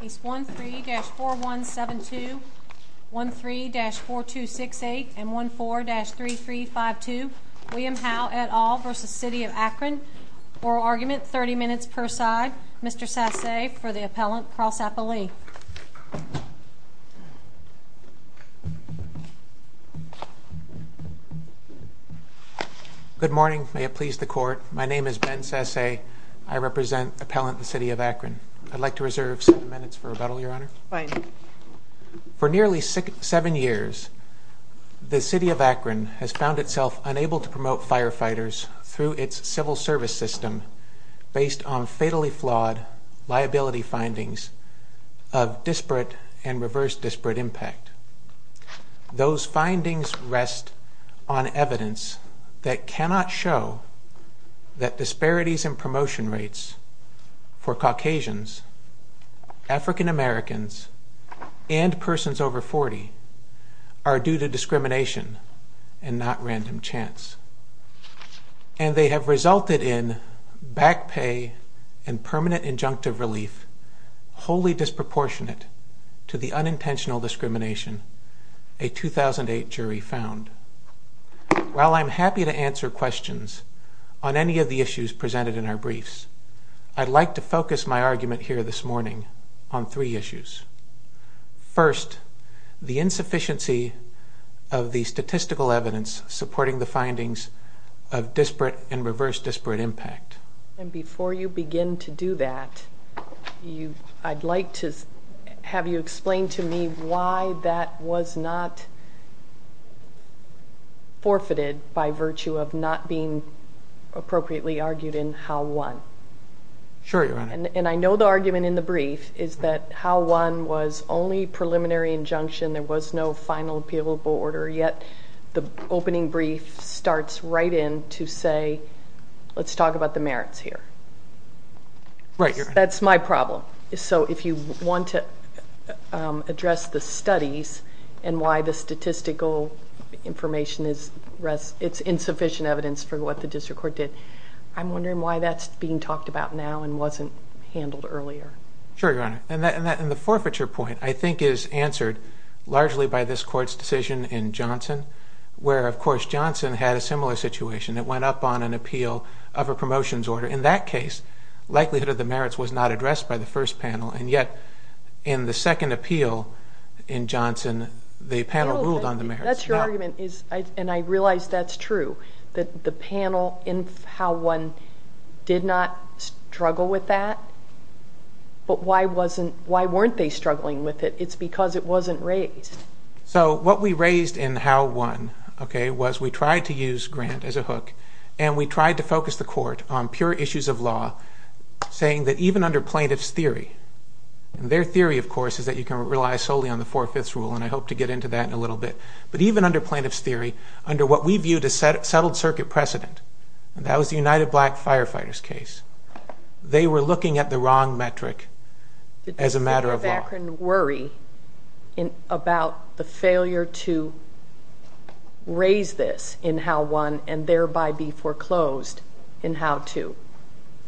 Case 1-3-4172, 1-3-4268, and 1-4-3352, William Howe et al. v. City of Akron Oral argument, 30 minutes per side. Mr. Sasse for the appellant, Carl Sappoli Good morning. May it please the court. My name is Ben Sasse. I represent the appellant, the City of Akron. I'd like to reserve seven minutes for rebuttal, Your Honor. Fine. For nearly seven years, the City of Akron has found itself unable to promote firefighters through its civil service system based on fatally flawed liability findings of disparate and reverse disparate impact. Those findings rest on evidence that cannot show that disparities in promotion rates for Caucasians, African Americans, and persons over 40 are due to discrimination and not random chance. And they have resulted in back pay and permanent injunctive relief wholly disproportionate to the unintentional discrimination a 2008 jury found. While I'm happy to answer questions on any of the issues presented in our briefs, I'd like to focus my argument here this morning on three issues. First, the insufficiency of the statistical evidence supporting the findings of disparate and reverse disparate impact. And before you begin to do that, I'd like to have you explain to me why that was not forfeited by virtue of not being appropriately argued in Howe 1. Sure, Your Honor. And I know the argument in the brief is that Howe 1 was only preliminary injunction. There was no final appealable order. Yet the opening brief starts right in to say, let's talk about the merits here. Right. That's my problem. So if you want to address the studies and why the statistical information is insufficient evidence for what the district court did, I'm wondering why that's being talked about now and wasn't handled earlier. Sure, Your Honor. And the forfeiture point, I think, is answered largely by this court's decision in Johnson, where, of course, Johnson had a similar situation. It went up on an appeal of a promotions order. In that case, likelihood of the merits was not addressed by the first panel, and yet in the second appeal in Johnson, the panel ruled on the merits. That's your argument, and I realize that's true, that the panel in Howe 1 did not struggle with that, but why weren't they struggling with it? It's because it wasn't raised. So what we raised in Howe 1 was we tried to use Grant as a hook, and we tried to focus the court on pure issues of law, saying that even under plaintiff's theory, and their theory, of course, is that you can rely solely on the Four-Fifths Rule, and I hope to get into that in a little bit, but even under plaintiff's theory, under what we viewed as settled circuit precedent, and that was the United Black Firefighters case, they were looking at the wrong metric as a matter of law. Did the District of Akron worry about the failure to raise this in Howe 1 and thereby be foreclosed in Howe 2?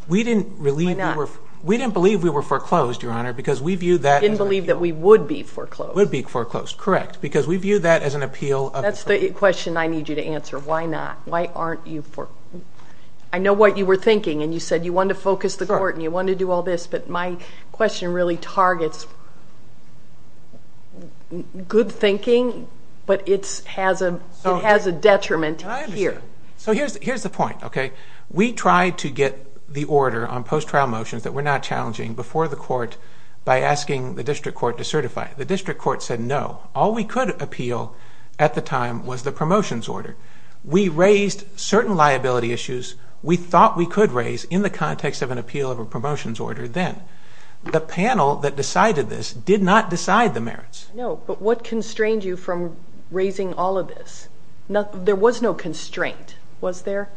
We didn't believe we were foreclosed, Your Honor, because we viewed that as an appeal. You didn't believe that we would be foreclosed. We would be foreclosed, correct, because we viewed that as an appeal. That's the question I need you to answer. Why not? Why aren't you foreclosed? I know what you were thinking, and you said you wanted to focus the court and you wanted to do all this, but my question really targets good thinking, but it has a detriment here. So here's the point, okay? We tried to get the order on post-trial motions that were not challenging before the court by asking the district court to certify it. The district court said no. All we could appeal at the time was the promotions order. We raised certain liability issues we thought we could raise in the context of an appeal of a promotions order then. The panel that decided this did not decide the merits. No, but what constrained you from raising all of this? There was no constraint, was there,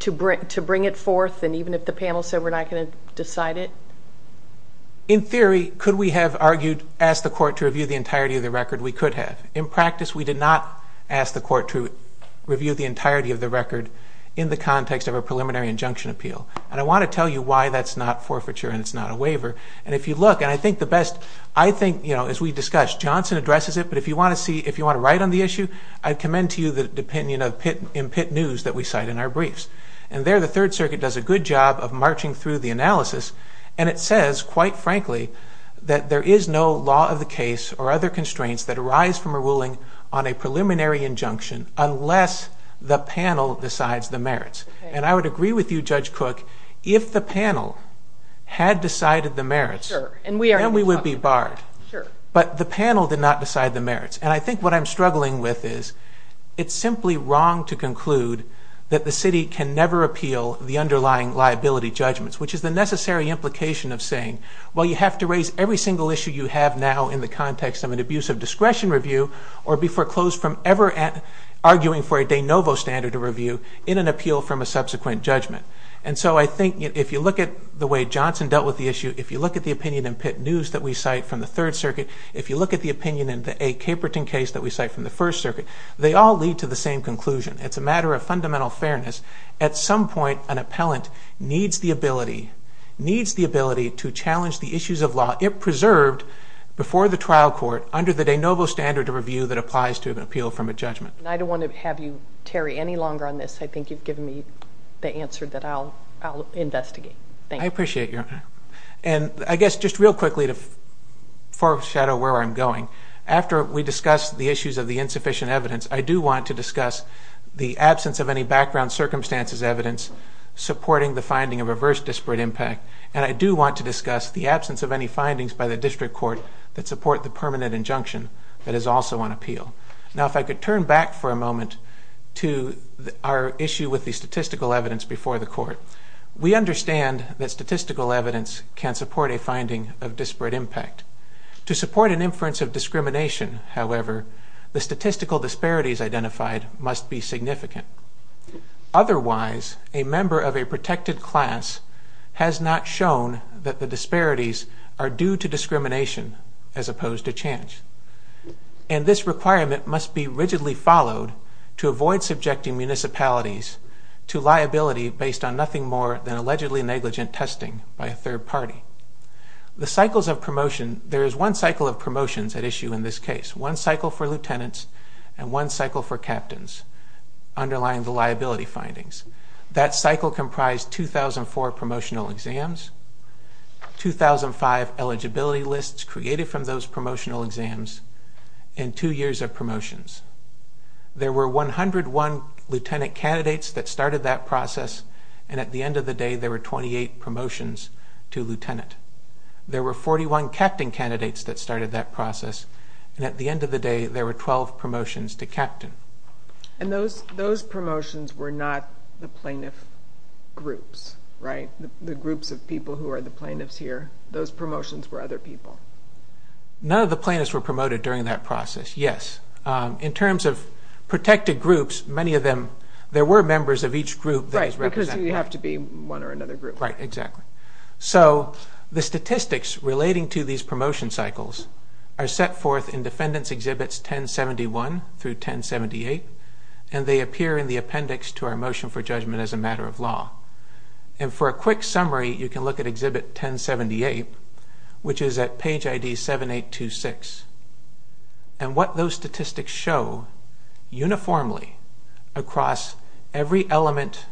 to bring it forth, and even if the panel said we're not going to decide it? In theory, could we have argued, asked the court to review the entirety of the record? We could have. In practice, we did not ask the court to review the entirety of the record in the context of a preliminary injunction appeal. And I want to tell you why that's not forfeiture and it's not a waiver. And if you look, and I think the best, I think, you know, as we discussed, Johnson addresses it, but if you want to write on the issue, I'd commend to you the opinion in Pitt News that we cite in our briefs. And there the Third Circuit does a good job of marching through the analysis, and it says, quite frankly, that there is no law of the case or other constraints that arise from a ruling on a preliminary injunction unless the panel decides the merits. And I would agree with you, Judge Cook, if the panel had decided the merits, then we would be barred. But the panel did not decide the merits. And I think what I'm struggling with is it's simply wrong to conclude that the city can never appeal the underlying liability judgments, which is the necessary implication of saying, well, you have to raise every single issue you have now in the context of an abuse of discretion review or be foreclosed from ever arguing for a de novo standard of review in an appeal from a subsequent judgment. And so I think if you look at the way Johnson dealt with the issue, if you look at the opinion in Pitt News that we cite from the Third Circuit, if you look at the opinion in the A. Caperton case that we cite from the First Circuit, they all lead to the same conclusion. It's a matter of fundamental fairness. At some point, an appellant needs the ability, to challenge the issues of law it preserved before the trial court under the de novo standard of review that applies to an appeal from a judgment. And I don't want to have you, Terry, any longer on this. I think you've given me the answer that I'll investigate. Thank you. I appreciate your honor. And I guess just real quickly to foreshadow where I'm going, after we discuss the issues of the insufficient evidence, I do want to discuss the absence of any background circumstances evidence supporting the finding of adverse disparate impact. And I do want to discuss the absence of any findings by the district court that support the permanent injunction that is also on appeal. Now, if I could turn back for a moment to our issue with the statistical evidence before the court. We understand that statistical evidence can support a finding of disparate impact. To support an inference of discrimination, however, the statistical disparities identified must be significant. Otherwise, a member of a protected class has not shown that the disparities are due to discrimination as opposed to chance. And this requirement must be rigidly followed to avoid subjecting municipalities to liability based on nothing more than allegedly negligent testing by a third party. The cycles of promotion, there is one cycle of promotions at issue in this case, one cycle for lieutenants and one cycle for captains underlying the liability findings. That cycle comprised 2,004 promotional exams, 2,005 eligibility lists created from those promotional exams, and two years of promotions. There were 101 lieutenant candidates that started that process, and at the end of the day there were 28 promotions to lieutenant. There were 41 captain candidates that started that process, and at the end of the day there were 12 promotions to captain. And those promotions were not the plaintiff groups, right? The groups of people who are the plaintiffs here, those promotions were other people. None of the plaintiffs were promoted during that process, yes. In terms of protected groups, many of them, there were members of each group that was represented. Right, because you have to be one or another group. Right, exactly. So the statistics relating to these promotion cycles are set forth in Defendants Exhibits 1071 through 1078, and they appear in the appendix to our Motion for Judgment as a Matter of Law. And for a quick summary, you can look at Exhibit 1078, which is at page ID 7826. And what those statistics show uniformly across every element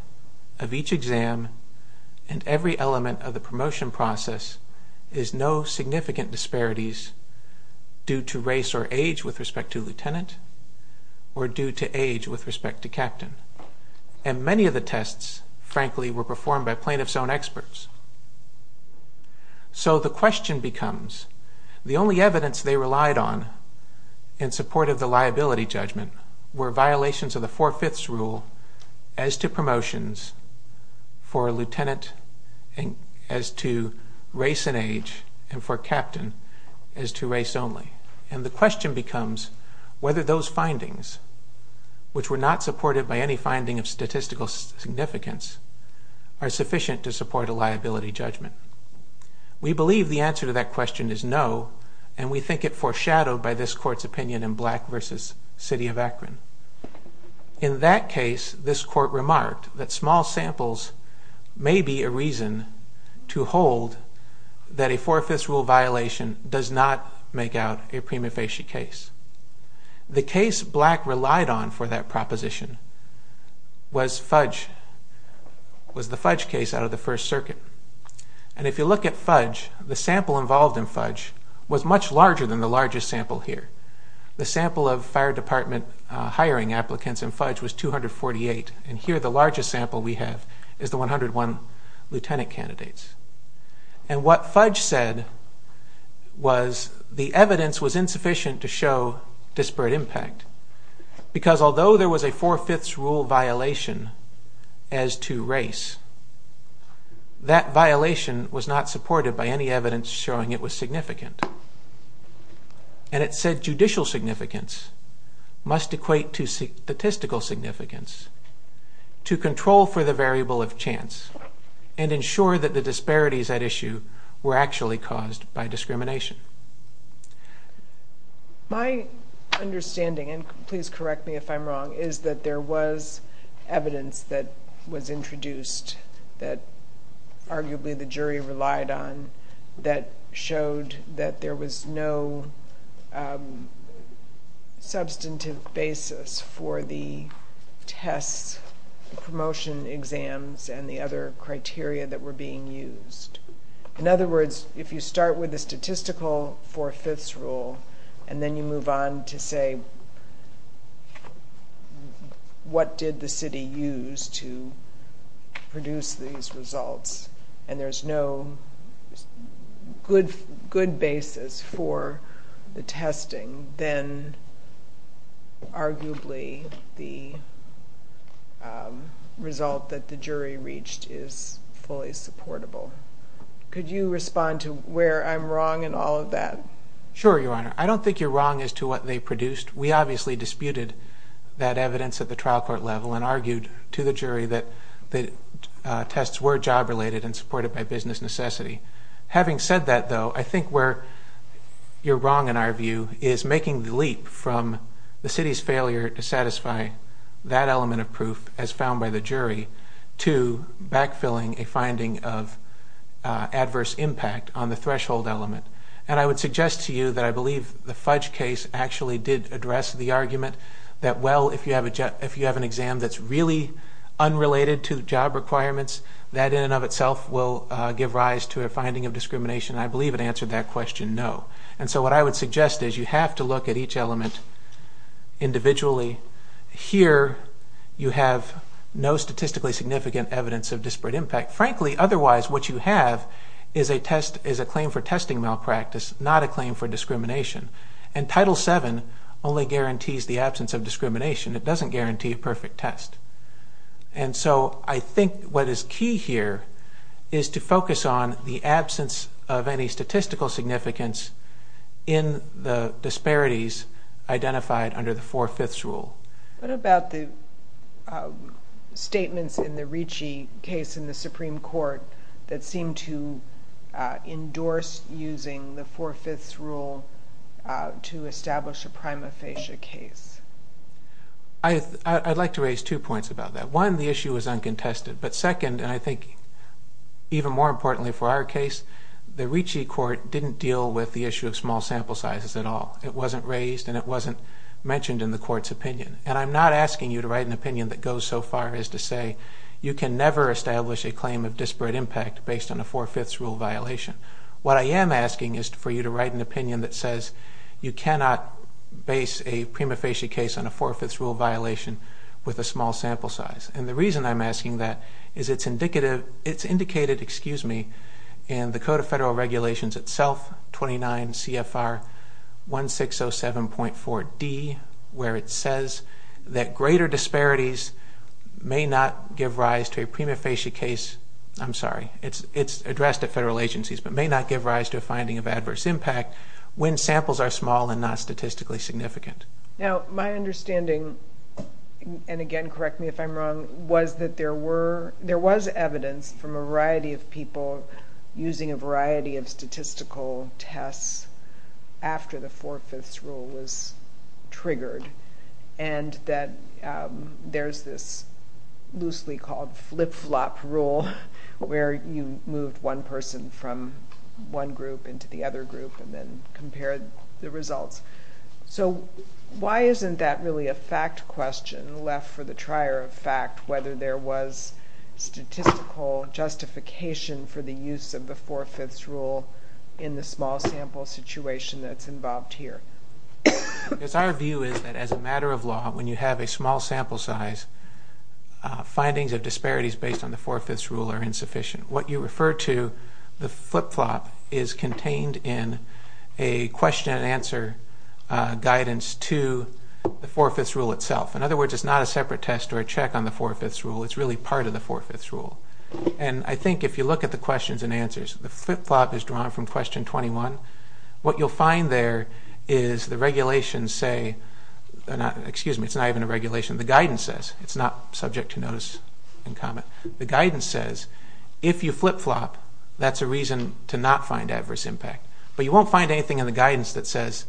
of each exam and every element of the promotion process is no significant disparities due to race or age with respect to lieutenant or due to age with respect to captain. And many of the tests, frankly, were performed by plaintiffs' own experts. So the question becomes, the only evidence they relied on in support of the liability judgment were violations of the Four-Fifths Rule as to promotions for lieutenant as to race and age and for captain as to race only. And the question becomes whether those findings, which were not supported by any finding of statistical significance, are sufficient to support a liability judgment. We believe the answer to that question is no, and we think it foreshadowed by this Court's opinion in Black v. City of Akron. In that case, this Court remarked that small samples may be a reason to hold that a Four-Fifths Rule violation does not make out a prima facie case. The case Black relied on for that proposition was Fudge, was the Fudge case out of the First Circuit. And if you look at Fudge, the sample involved in Fudge was much larger than the largest sample here. The sample of fire department hiring applicants in Fudge was 248, and here the largest sample we have is the 101 lieutenant candidates. And what Fudge said was the evidence was insufficient to show disparate impact because although there was a Four-Fifths Rule violation as to race, that violation was not supported by any evidence showing it was significant. And it said judicial significance must equate to statistical significance to control for the variable of chance and ensure that the disparities at issue were actually caused by discrimination. My understanding, and please correct me if I'm wrong, is that there was evidence that was introduced that arguably the jury relied on that showed that there was no substantive basis for the test promotion exams and the other criteria that were being used. In other words, if you start with the statistical Four-Fifths Rule and then you move on to say what did the city use to produce these results and there's no good basis for the testing, then arguably the result that the jury reached is fully supportable. Could you respond to where I'm wrong in all of that? Sure, Your Honor. I don't think you're wrong as to what they produced. We obviously disputed that evidence at the trial court level and argued to the jury that the tests were job-related and supported by business necessity. Having said that, though, I think where you're wrong in our view is making the leap from the city's failure to satisfy that element of proof as found by the jury to backfilling a finding of adverse impact on the threshold element. I would suggest to you that I believe the Fudge case actually did address the argument that if you have an exam that's really unrelated to job requirements, that in and of itself will give rise to a finding of discrimination. I believe it answered that question no. So what I would suggest is you have to look at each element individually. Here you have no statistically significant evidence of disparate impact. Frankly, otherwise what you have is a claim for testing malpractice, not a claim for discrimination. And Title VII only guarantees the absence of discrimination. It doesn't guarantee a perfect test. And so I think what is key here is to focus on the absence of any statistical significance in the disparities identified under the Four-Fifths Rule. What about the statements in the Ricci case in the Supreme Court that seem to endorse using the Four-Fifths Rule to establish a prima facie case? I'd like to raise two points about that. One, the issue is uncontested. But second, and I think even more importantly for our case, the Ricci Court didn't deal with the issue of small sample sizes at all. It wasn't raised and it wasn't mentioned in the Court's opinion. And I'm not asking you to write an opinion that goes so far as to say you can never establish a claim of disparate impact based on a Four-Fifths Rule violation. What I am asking is for you to write an opinion that says you cannot base a prima facie case on a Four-Fifths Rule violation with a small sample size. And the reason I'm asking that is it's indicated in the Code of Federal Regulations itself, 29 CFR 1607.4d, where it says that greater disparities may not give rise to a prima facie case. I'm sorry, it's addressed at federal agencies, but may not give rise to a finding of adverse impact when samples are small and not statistically significant. Now, my understanding, and again, correct me if I'm wrong, was that there was evidence from a variety of people using a variety of statistical tests after the Four-Fifths Rule was triggered, and that there's this loosely called flip-flop rule where you move one person from one group into the other group and then compare the results. So why isn't that really a fact question left for the trier of fact, whether there was statistical justification for the use of the Four-Fifths Rule in the small sample situation that's involved here? Because our view is that as a matter of law, when you have a small sample size, findings of disparities based on the Four-Fifths Rule are insufficient. What you refer to, the flip-flop, is contained in a question-and-answer guidance to the Four-Fifths Rule itself. In other words, it's not a separate test or a check on the Four-Fifths Rule. It's really part of the Four-Fifths Rule. And I think if you look at the questions and answers, the flip-flop is drawn from Question 21. What you'll find there is the regulations say, excuse me, it's not even a regulation. The guidance says. It's not subject to notice and comment. The guidance says, if you flip-flop, that's a reason to not find adverse impact. But you won't find anything in the guidance that says,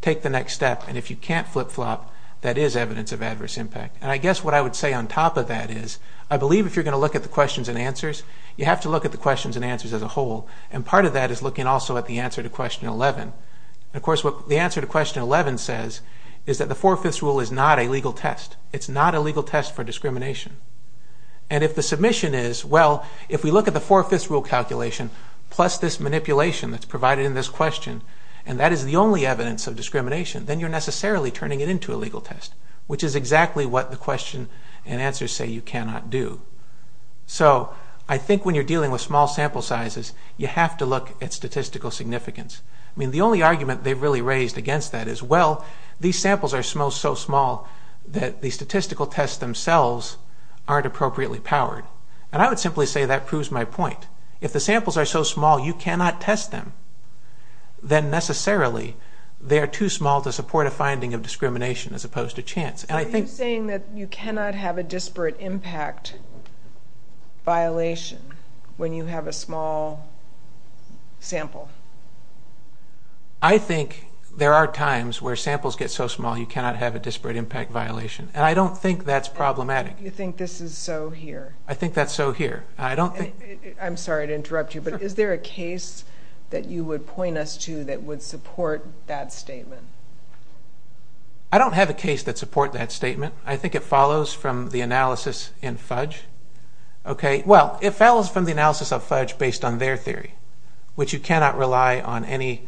take the next step, and if you can't flip-flop, that is evidence of adverse impact. And I guess what I would say on top of that is, I believe if you're going to look at the questions and answers, you have to look at the questions and answers as a whole. And part of that is looking also at the answer to Question 11. Of course, what the answer to Question 11 says is that the Four-Fifths Rule is not a legal test. It's not a legal test for discrimination. And if the submission is, well, if we look at the Four-Fifths Rule calculation, plus this manipulation that's provided in this question, and that is the only evidence of discrimination, then you're necessarily turning it into a legal test, which is exactly what the question and answers say you cannot do. So, I think when you're dealing with small sample sizes, you have to look at statistical significance. I mean, the only argument they've really raised against that is, well, these samples are so small that the statistical tests themselves aren't appropriately powered. And I would simply say that proves my point. If the samples are so small you cannot test them, then necessarily they are too small to support a finding of discrimination as opposed to chance. Are you saying that you cannot have a disparate impact violation when you have a small sample? I think there are times where samples get so small you cannot have a disparate impact violation. And I don't think that's problematic. You think this is so here? I think that's so here. I'm sorry to interrupt you, but is there a case that you would point us to that would support that statement? I don't have a case that support that statement. I think it follows from the analysis in FUDGE. Well, it follows from the analysis of FUDGE based on their theory, which you cannot rely on any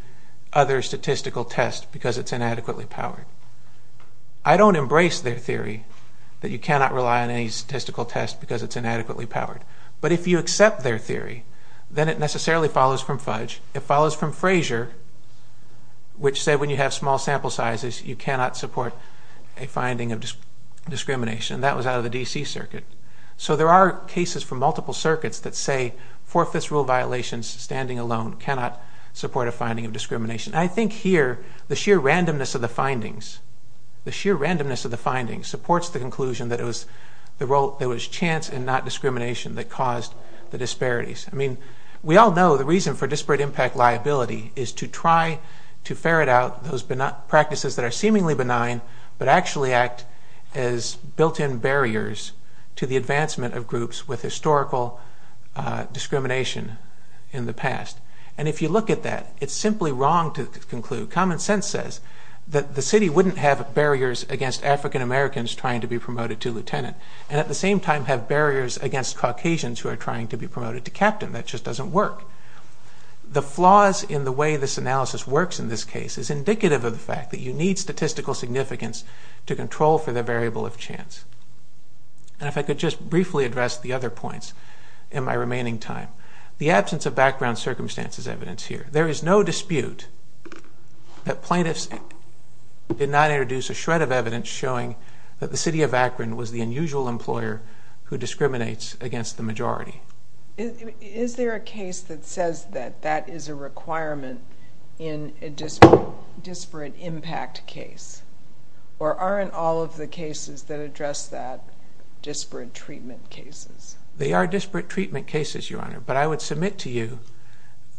other statistical test because it's inadequately powered. I don't embrace their theory that you cannot rely on any statistical test because it's inadequately powered. But if you accept their theory, then it necessarily follows from FUDGE. It follows from Fraser, which said when you have small sample sizes, you cannot support a finding of discrimination. That was out of the D.C. Circuit. So there are cases from multiple circuits that say four-fifths rule violations standing alone cannot support a finding of discrimination. And I think here the sheer randomness of the findings supports the conclusion that it was chance and not discrimination that caused the disparities. I mean, we all know the reason for disparate impact liability is to try to ferret out those practices that are seemingly benign but actually act as built-in barriers to the advancement of groups with historical discrimination in the past. And if you look at that, it's simply wrong to conclude. Common sense says that the city wouldn't have barriers against African Americans trying to be promoted to lieutenant and at the same time have barriers against Caucasians who are trying to be promoted to captain. That just doesn't work. The flaws in the way this analysis works in this case is indicative of the fact that you need statistical significance to control for the variable of chance. And if I could just briefly address the other points in my remaining time. The absence of background circumstances evidence here. There is no dispute that plaintiffs did not introduce a shred of evidence showing that the city of Akron was the unusual employer who discriminates against the majority. Is there a case that says that that is a requirement in a disparate impact case? Or aren't all of the cases that address that disparate treatment cases? They are disparate treatment cases, Your Honor. But I would submit to you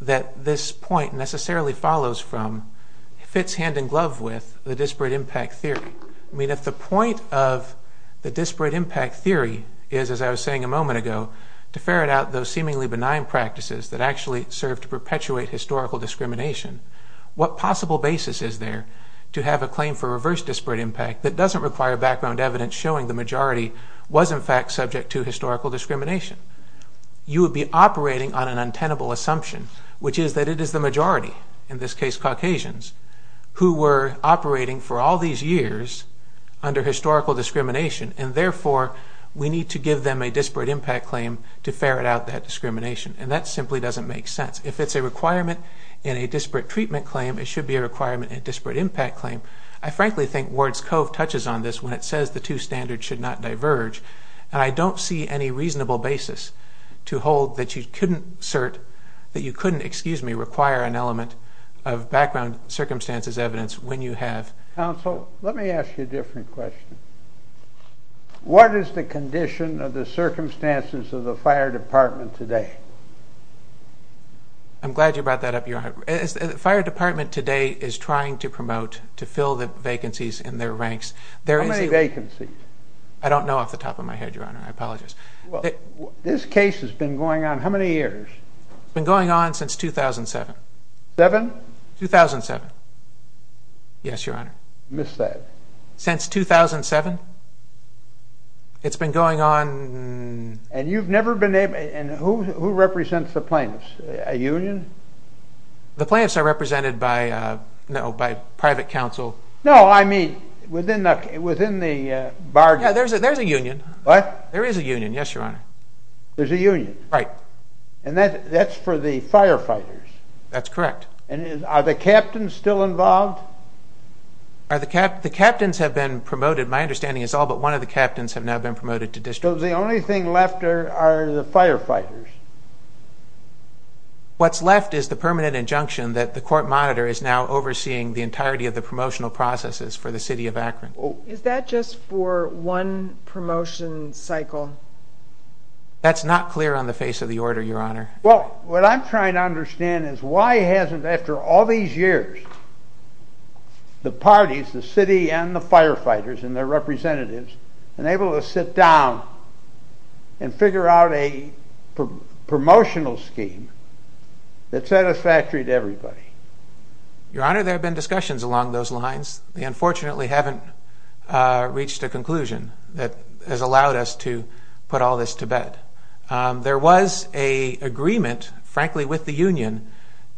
that this point necessarily follows from, fits hand-in-glove with, the disparate impact theory. I mean, if the point of the disparate impact theory is, as I was saying a moment ago, to ferret out those seemingly benign practices that actually serve to perpetuate historical discrimination, what possible basis is there to have a claim for reverse disparate impact that doesn't require background evidence showing the majority was in fact subject to historical discrimination? You would be operating on an untenable assumption, which is that it is the majority, in this case Caucasians, who were operating for all these years under historical discrimination, and therefore we need to give them a disparate impact claim to ferret out that discrimination. And that simply doesn't make sense. If it's a requirement in a disparate treatment claim, it should be a requirement in a disparate impact claim. I frankly think Ward's Cove touches on this when it says the two standards should not diverge, and I don't see any reasonable basis to hold that you couldn't assert, that you couldn't, excuse me, require an element of background circumstances evidence when you have. Counsel, let me ask you a different question. What is the condition of the circumstances of the fire department today? I'm glad you brought that up. The fire department today is trying to promote, to fill the vacancies in their ranks. How many vacancies? I don't know off the top of my head, Your Honor, I apologize. This case has been going on how many years? It's been going on since 2007. Seven? 2007. Yes, Your Honor. Missed that. Since 2007? It's been going on... And you've never been able, and who represents the plaintiffs? A union? The plaintiffs are represented by, no, by private counsel. No, I mean, within the bargaining... Yeah, there's a union. What? There is a union, yes, Your Honor. There's a union? Right. And that's for the firefighters? That's correct. And are the captains still involved? The captains have been promoted. My understanding is all but one of the captains have now been promoted to district. So the only thing left are the firefighters? What's left is the permanent injunction that the court monitor is now overseeing the entirety of the promotional processes for the city of Akron. Is that just for one promotion cycle? That's not clear on the face of the order, Your Honor. Well, what I'm trying to understand is why hasn't, after all these years, the parties, the city and the firefighters and their representatives, been able to sit down and figure out a promotional scheme that's satisfactory to everybody? Your Honor, there have been discussions along those lines. We unfortunately haven't reached a conclusion that has allowed us to put all this to bed. There was an agreement, frankly, with the union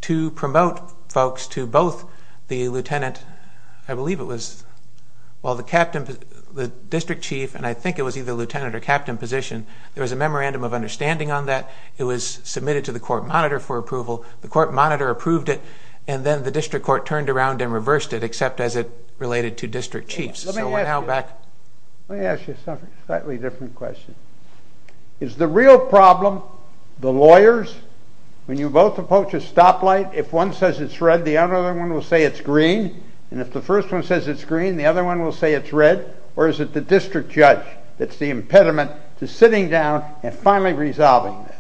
to promote folks to both the lieutenant, the district chief, and I think it was either lieutenant or captain position. There was a memorandum of understanding on that. It was submitted to the court monitor for approval. The court monitor approved it, and then the district court turned around and reversed it, except as it related to district chiefs. Let me ask you a slightly different question. Is the real problem the lawyers? When you both approach a stoplight, if one says it's red, the other one will say it's green, and if the first one says it's green, the other one will say it's red, or is it the district judge that's the impediment to sitting down and finally resolving this?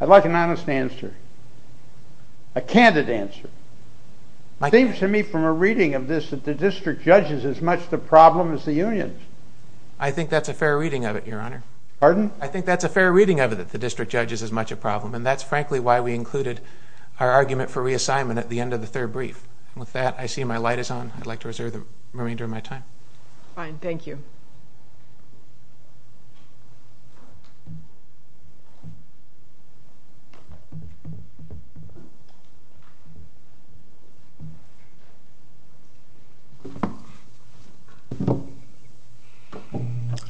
I'd like an honest answer, a candid answer. It seems to me from a reading of this that the district judge is as much the problem as the unions. I think that's a fair reading of it, Your Honor. Pardon? I think that's a fair reading of it, that the district judge is as much a problem, and that's frankly why we included our argument for reassignment at the end of the third brief. With that, I see my light is on. I'd like to reserve the remainder of my time. Fine. Thank you. I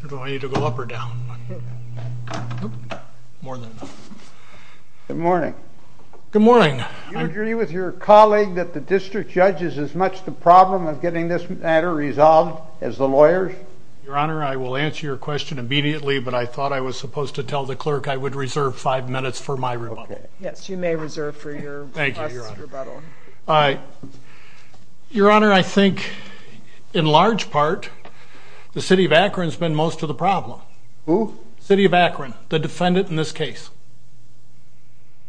don't know if I need to go up or down. More than enough. Good morning. Good morning. Do you agree with your colleague that the district judge is as much the problem of getting this matter resolved as the lawyers? Your Honor, I will answer your question immediately, but I thought I was supposed to tell the clerk I would reserve five minutes for my rebuttal. Okay. Yes, you may reserve for your rebuttal. Thank you, Your Honor. All right. Your Honor, I think in large part the city of Akron has been most of the problem. Who? City of Akron, the defendant in this case.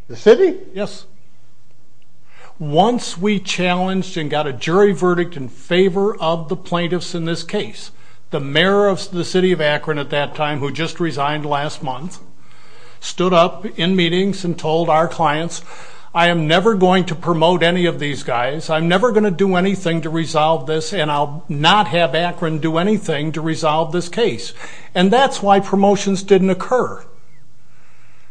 The city? Yes. Once we challenged and got a jury verdict in favor of the plaintiffs in this case, the mayor of the city of Akron at that time, who just resigned last month, stood up in meetings and told our clients, I am never going to promote any of these guys, I'm never going to do anything to resolve this, and I'll not have Akron do anything to resolve this case. And that's why promotions didn't occur.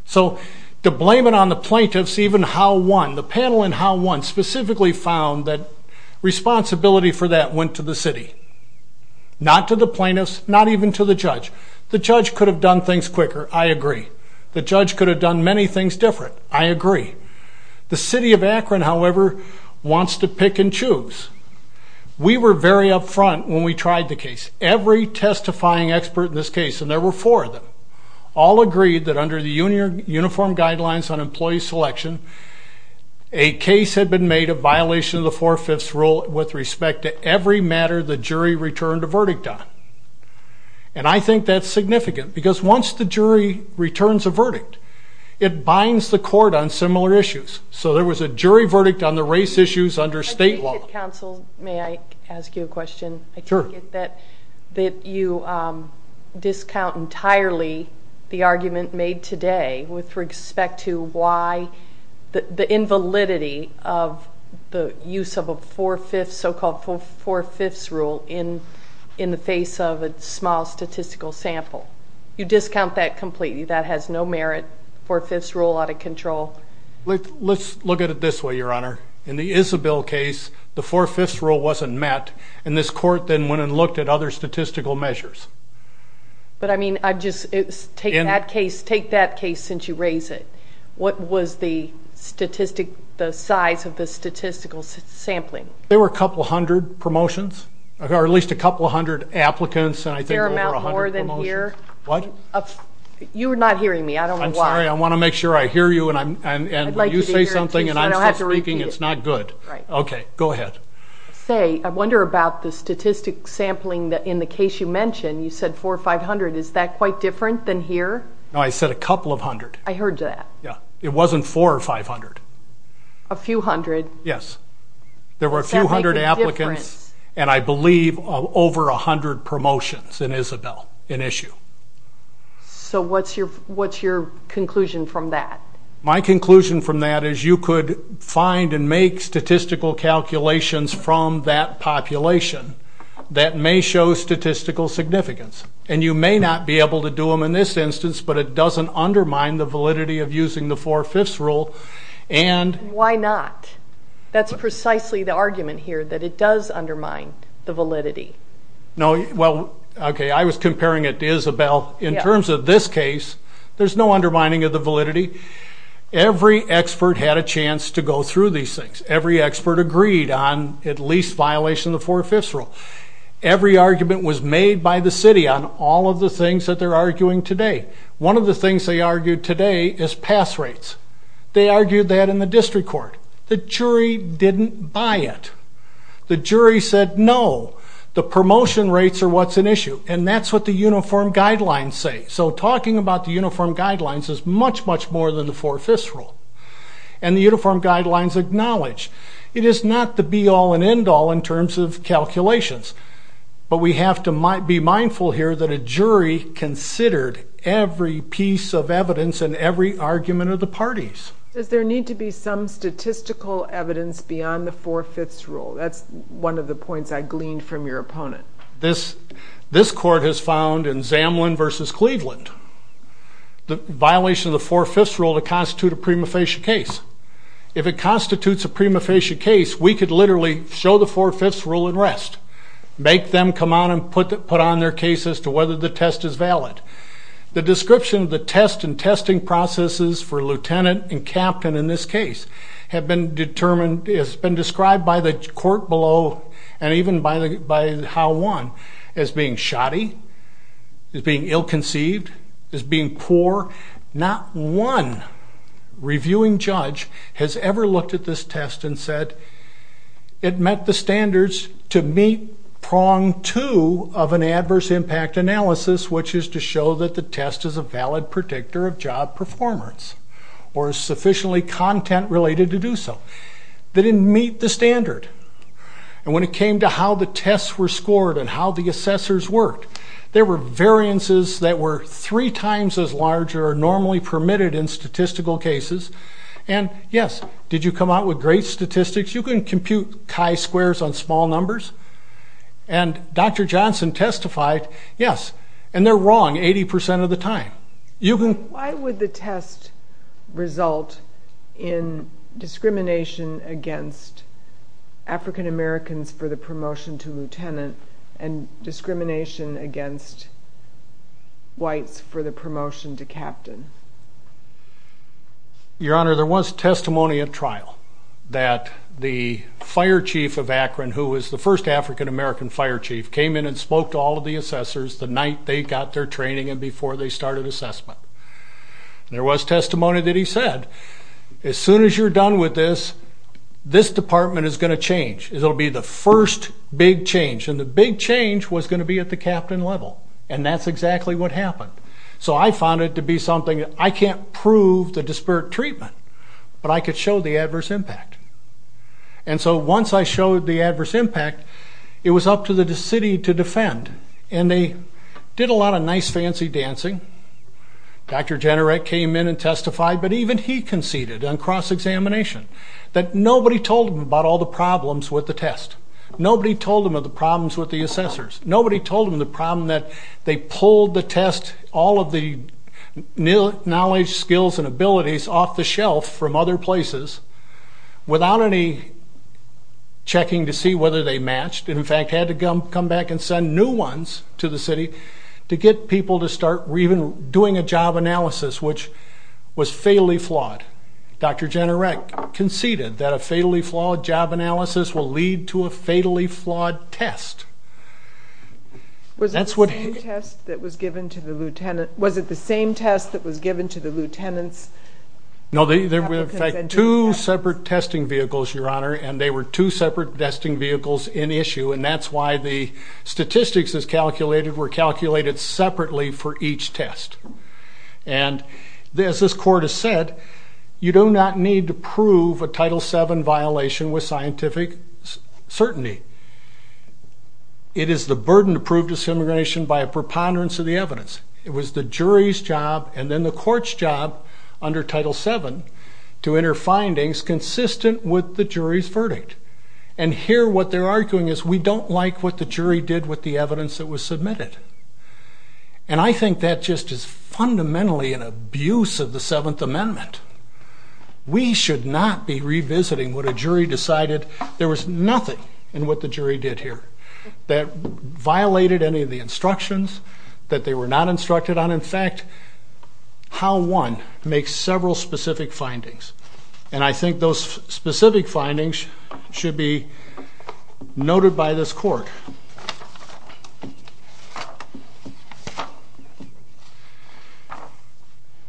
So to blame it on the plaintiffs, even Howe won. The panel in Howe won specifically found that responsibility for that went to the city, not to the plaintiffs, not even to the judge. The judge could have done things quicker. I agree. The judge could have done many things different. I agree. The city of Akron, however, wants to pick and choose. We were very upfront when we tried the case. Every testifying expert in this case, and there were four of them, all agreed that under the Uniform Guidelines on Employee Selection, a case had been made of violation of the Four-Fifths Rule with respect to every matter the jury returned a verdict on. And I think that's significant, because once the jury returns a verdict, it binds the court on similar issues. So there was a jury verdict on the race issues under state law. Counsel, may I ask you a question? Sure. That you discount entirely the argument made today with respect to why the invalidity of the use of a so-called Four-Fifths Rule in the face of a small statistical sample. You discount that completely. That has no merit, Four-Fifths Rule out of control. Let's look at it this way, Your Honor. In the Isabel case, the Four-Fifths Rule wasn't met, and this court then went and looked at other statistical measures. But, I mean, take that case since you raise it. What was the size of the statistical sampling? There were a couple hundred promotions, or at least a couple hundred applicants, and I think over a hundred promotions. Is there an amount more than here? What? You're not hearing me. I don't know why. I'm sorry. I want to make sure I hear you, and when you say something and I'm still speaking, it's not good. Right. Okay. Go ahead. Say, I wonder about the statistic sampling in the case you mentioned. You said four or five hundred. Is that quite different than here? No, I said a couple of hundred. I heard that. Yeah. It wasn't four or five hundred. A few hundred. Yes. There were a few hundred applicants. Does that make a difference? And I believe over a hundred promotions in Isabel, an issue. So what's your conclusion from that? My conclusion from that is you could find and make statistical calculations from that population that may show statistical significance. And you may not be able to do them in this instance, but it doesn't undermine the validity of using the four-fifths rule. Why not? That's precisely the argument here, that it does undermine the validity. Well, okay, I was comparing it to Isabel. In terms of this case, there's no undermining of the validity. Every expert had a chance to go through these things. Every expert agreed on at least violation of the four-fifths rule. Every argument was made by the city on all of the things that they're arguing today. One of the things they argued today is pass rates. They argued that in the district court. The jury didn't buy it. The jury said, no, the promotion rates are what's an issue. And that's what the uniform guidelines say. So talking about the uniform guidelines is much, much more than the four-fifths rule. And the uniform guidelines acknowledge it is not the be-all and end-all in terms of calculations. But we have to be mindful here that a jury considered every piece of evidence and every argument of the parties. Does there need to be some statistical evidence beyond the four-fifths rule? That's one of the points I gleaned from your opponent. This court has found in Zamlin v. Cleveland, the violation of the four-fifths rule to constitute a prima facie case. If it constitutes a prima facie case, we could literally show the four-fifths rule at rest, make them come out and put on their case as to whether the test is valid. The description of the test and testing processes for lieutenant and captain in this case have been described by the court below and even by how one, as being shoddy, as being ill-conceived, as being poor. Not one reviewing judge has ever looked at this test and said, it met the standards to meet prong two of an adverse impact analysis, which is to show that the test is a valid predictor of job performance or is sufficiently content-related to do so. They didn't meet the standard. And when it came to how the tests were scored and how the assessors worked, there were variances that were three times as large or normally permitted in statistical cases. And, yes, did you come out with great statistics? You can compute chi-squares on small numbers. And Dr. Johnson testified, yes, and they're wrong 80% of the time. Why would the test result in discrimination against African-Americans for the promotion to lieutenant and discrimination against whites for the promotion to captain? Your Honor, there was testimony at trial that the fire chief of Akron, who was the first African-American fire chief, came in and spoke to all of the assessors the night they got their training and before they started assessment. There was testimony that he said, as soon as you're done with this, this department is going to change. It will be the first big change, and the big change was going to be at the captain level. And that's exactly what happened. So I found it to be something that I can't prove the disparate treatment, but I could show the adverse impact. And so once I showed the adverse impact, it was up to the city to defend. And they did a lot of nice, fancy dancing. Dr. Jenaret came in and testified, but even he conceded on cross-examination that nobody told him about all the problems with the test. Nobody told him of the problems with the assessors. Nobody told him the problem that they pulled the test, all of the knowledge, skills, and abilities off the shelf from other places without any checking to see whether they matched and, in fact, had to come back and send new ones to the city to get people to start even doing a job analysis, which was fatally flawed. Dr. Jenaret conceded that a fatally flawed job analysis will lead to a fatally flawed test. Was it the same test that was given to the lieutenants? No, there were, in fact, two separate testing vehicles, Your Honor, and they were two separate testing vehicles in issue, and that's why the statistics that's calculated were calculated separately for each test. And as this court has said, you do not need to prove a Title VII violation with scientific certainty. It is the burden to prove disimmigration by a preponderance of the evidence. It was the jury's job and then the court's job under Title VII to enter findings consistent with the jury's verdict. And here what they're arguing is we don't like what the jury did with the evidence that was submitted. And I think that just is fundamentally an abuse of the Seventh Amendment. We should not be revisiting what a jury decided. There was nothing in what the jury did here that violated any of the instructions, that they were not instructed on. In fact, Howe 1 makes several specific findings, and I think those specific findings should be noted by this court.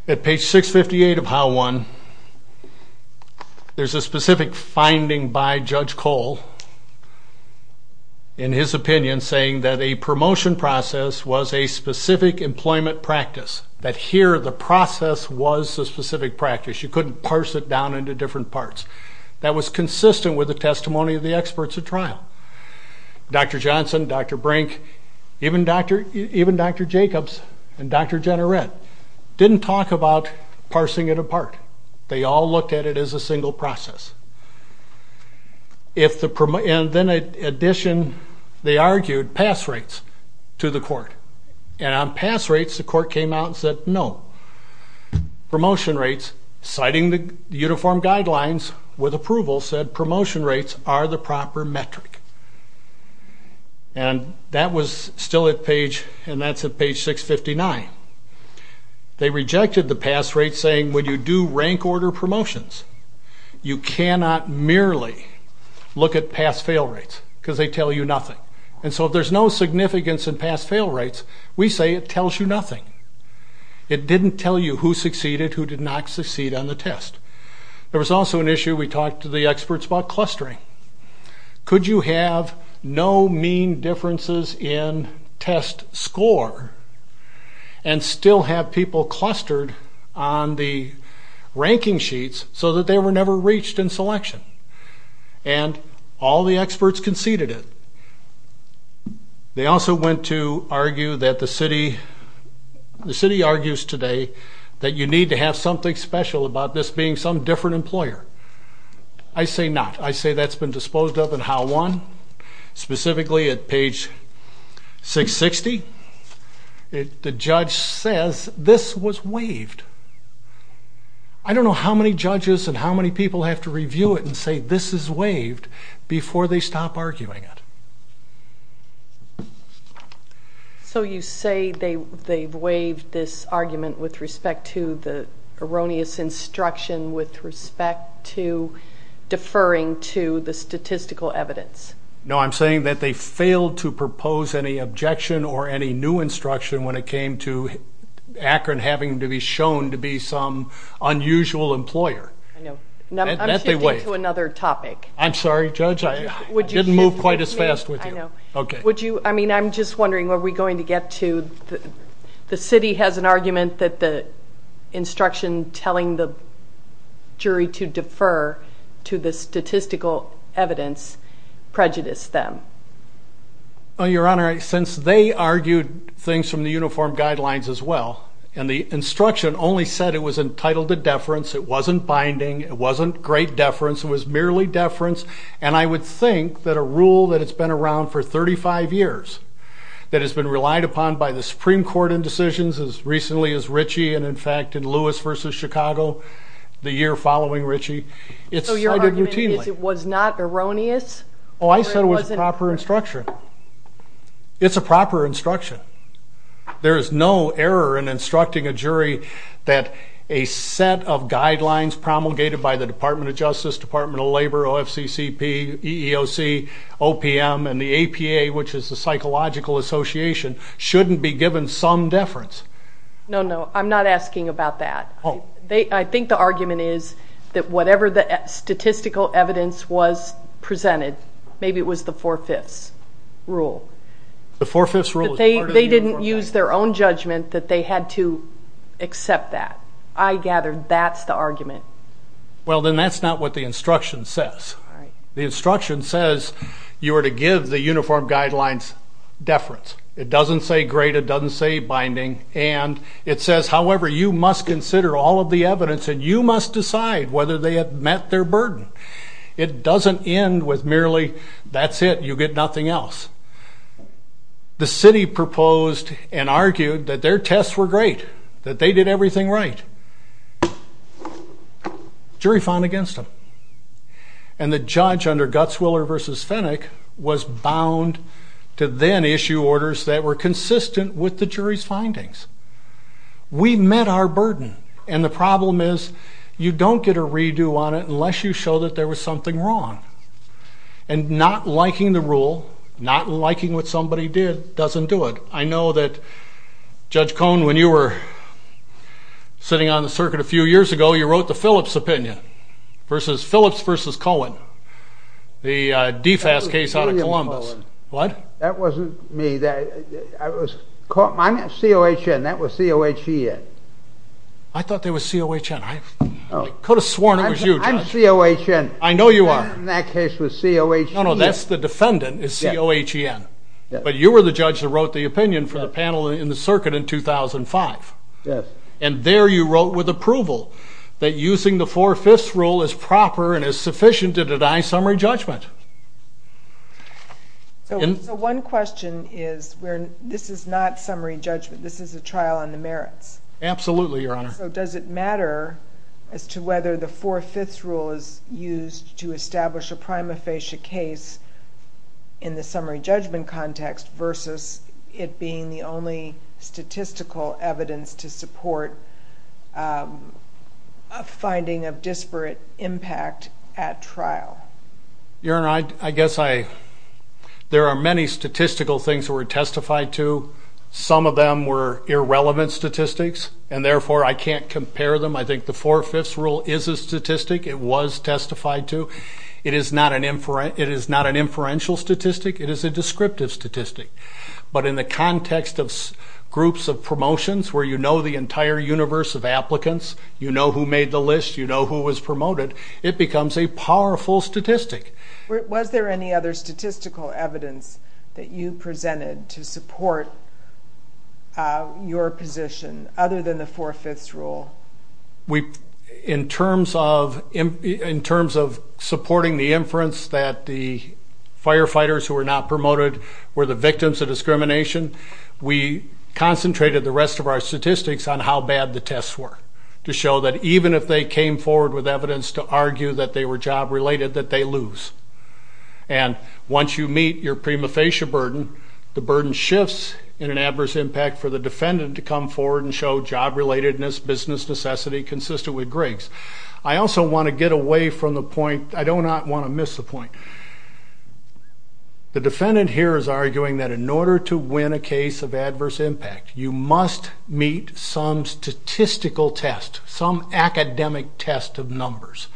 At page 658 of Howe 1, there's a specific finding by Judge Cole, in his opinion, saying that a promotion process was a specific employment practice, that here the process was a specific practice. You couldn't parse it down into different parts. That was consistent with the testimony of the experts at trial. Dr. Johnson, Dr. Brink, even Dr. Jacobs and Dr. Jenneret didn't talk about parsing it apart. They all looked at it as a single process. And then in addition, they argued pass rates to the court. And on pass rates, the court came out and said no. Promotion rates, citing the uniform guidelines with approval, said promotion rates are the proper metric. And that was still at page, and that's at page 659. They rejected the pass rate, saying when you do rank order promotions, you cannot merely look at pass-fail rates because they tell you nothing. And so if there's no significance in pass-fail rates, we say it tells you nothing. It didn't tell you who succeeded, who did not succeed on the test. There was also an issue we talked to the experts about clustering. Could you have no mean differences in test score and still have people clustered on the ranking sheets so that they were never reached in selection? And all the experts conceded it. They also went to argue that the city argues today that you need to have something special about this being some different employer. I say not. I say that's been disposed of in how one, specifically at page 660. The judge says this was waived. I don't know how many judges and how many people have to review it and say this is waived before they stop arguing it. So you say they've waived this argument with respect to the erroneous instruction with respect to deferring to the statistical evidence? No, I'm saying that they failed to propose any objection or any new instruction when it came to Akron having to be shown to be some unusual employer. I'm shifting to another topic. I'm sorry, Judge, I didn't move quite as fast with you. I'm just wondering, are we going to get to the city has an argument that the instruction telling the jury to defer to the statistical evidence prejudiced them? Your Honor, since they argued things from the uniform guidelines as well, and the instruction only said it was entitled to deference, it wasn't binding, it wasn't great deference, it was merely deference, and I would think that a rule that has been around for 35 years, that has been relied upon by the Supreme Court in decisions as recently as Ritchie and in fact in Lewis v. Chicago the year following Ritchie, it's cited routinely. So your argument is it was not erroneous? Oh, I said it was proper instruction. It's a proper instruction. There is no error in instructing a jury that a set of guidelines promulgated by the Department of Justice, Department of Labor, OFCCP, EEOC, OPM, and the APA, which is the Psychological Association, shouldn't be given some deference. No, no, I'm not asking about that. I think the argument is that whatever the statistical evidence was presented, maybe it was the four-fifths rule. The four-fifths rule is part of the uniform guidelines. They didn't use their own judgment that they had to accept that. I gather that's the argument. Well, then that's not what the instruction says. The instruction says you are to give the uniform guidelines deference. It doesn't say grade. It doesn't say binding. And it says, however, you must consider all of the evidence and you must decide whether they have met their burden. It doesn't end with merely that's it, you get nothing else. The city proposed and argued that their tests were great, that they did everything right. Jury found against them. And the judge under Gutzwiller v. Fenwick was bound to then issue orders that were consistent with the jury's findings. We met our burden, and the problem is you don't get a redo on it unless you show that there was something wrong. And not liking the rule, not liking what somebody did, doesn't do it. I know that Judge Cohn, when you were sitting on the circuit a few years ago, you wrote the Phillips opinion versus Phillips v. Cohen, the DFAS case out of Columbus. What? That wasn't me. I'm COHN. That was COHEN. I thought they were COHN. I could have sworn it was you, Judge. I'm COHN. I know you are. That case was COHEN. No, no, that's the defendant is COHEN. But you were the judge that wrote the opinion for the panel in the circuit in 2005. Yes. And there you wrote with approval that using the Four-Fifths Rule is proper and is sufficient to deny summary judgment. So one question is this is not summary judgment. This is a trial on the merits. Absolutely, Your Honor. So does it matter as to whether the Four-Fifths Rule is used to establish a prima facie case in the summary judgment context versus it being the only statistical evidence to support a finding of disparate impact at trial? Your Honor, I guess there are many statistical things that were testified to. Some of them were irrelevant statistics, and therefore I can't compare them. I think the Four-Fifths Rule is a statistic. It was testified to. It is not an inferential statistic. It is a descriptive statistic. But in the context of groups of promotions where you know the entire universe of applicants, you know who made the list, you know who was promoted, it becomes a powerful statistic. Was there any other statistical evidence that you presented to support your position other than the Four-Fifths Rule? In terms of supporting the inference that the firefighters who were not promoted were the victims of discrimination, we concentrated the rest of our statistics on how bad the tests were to show that even if they came forward with evidence to argue that they were job-related, that they lose. And once you meet your prima facie burden, the burden shifts in an adverse impact for the defendant to come forward and show job-relatedness, business necessity, consistent with Griggs. I also want to get away from the point. I do not want to miss the point. The defendant here is arguing that in order to win a case of adverse impact, you must meet some statistical test, some academic test of numbers.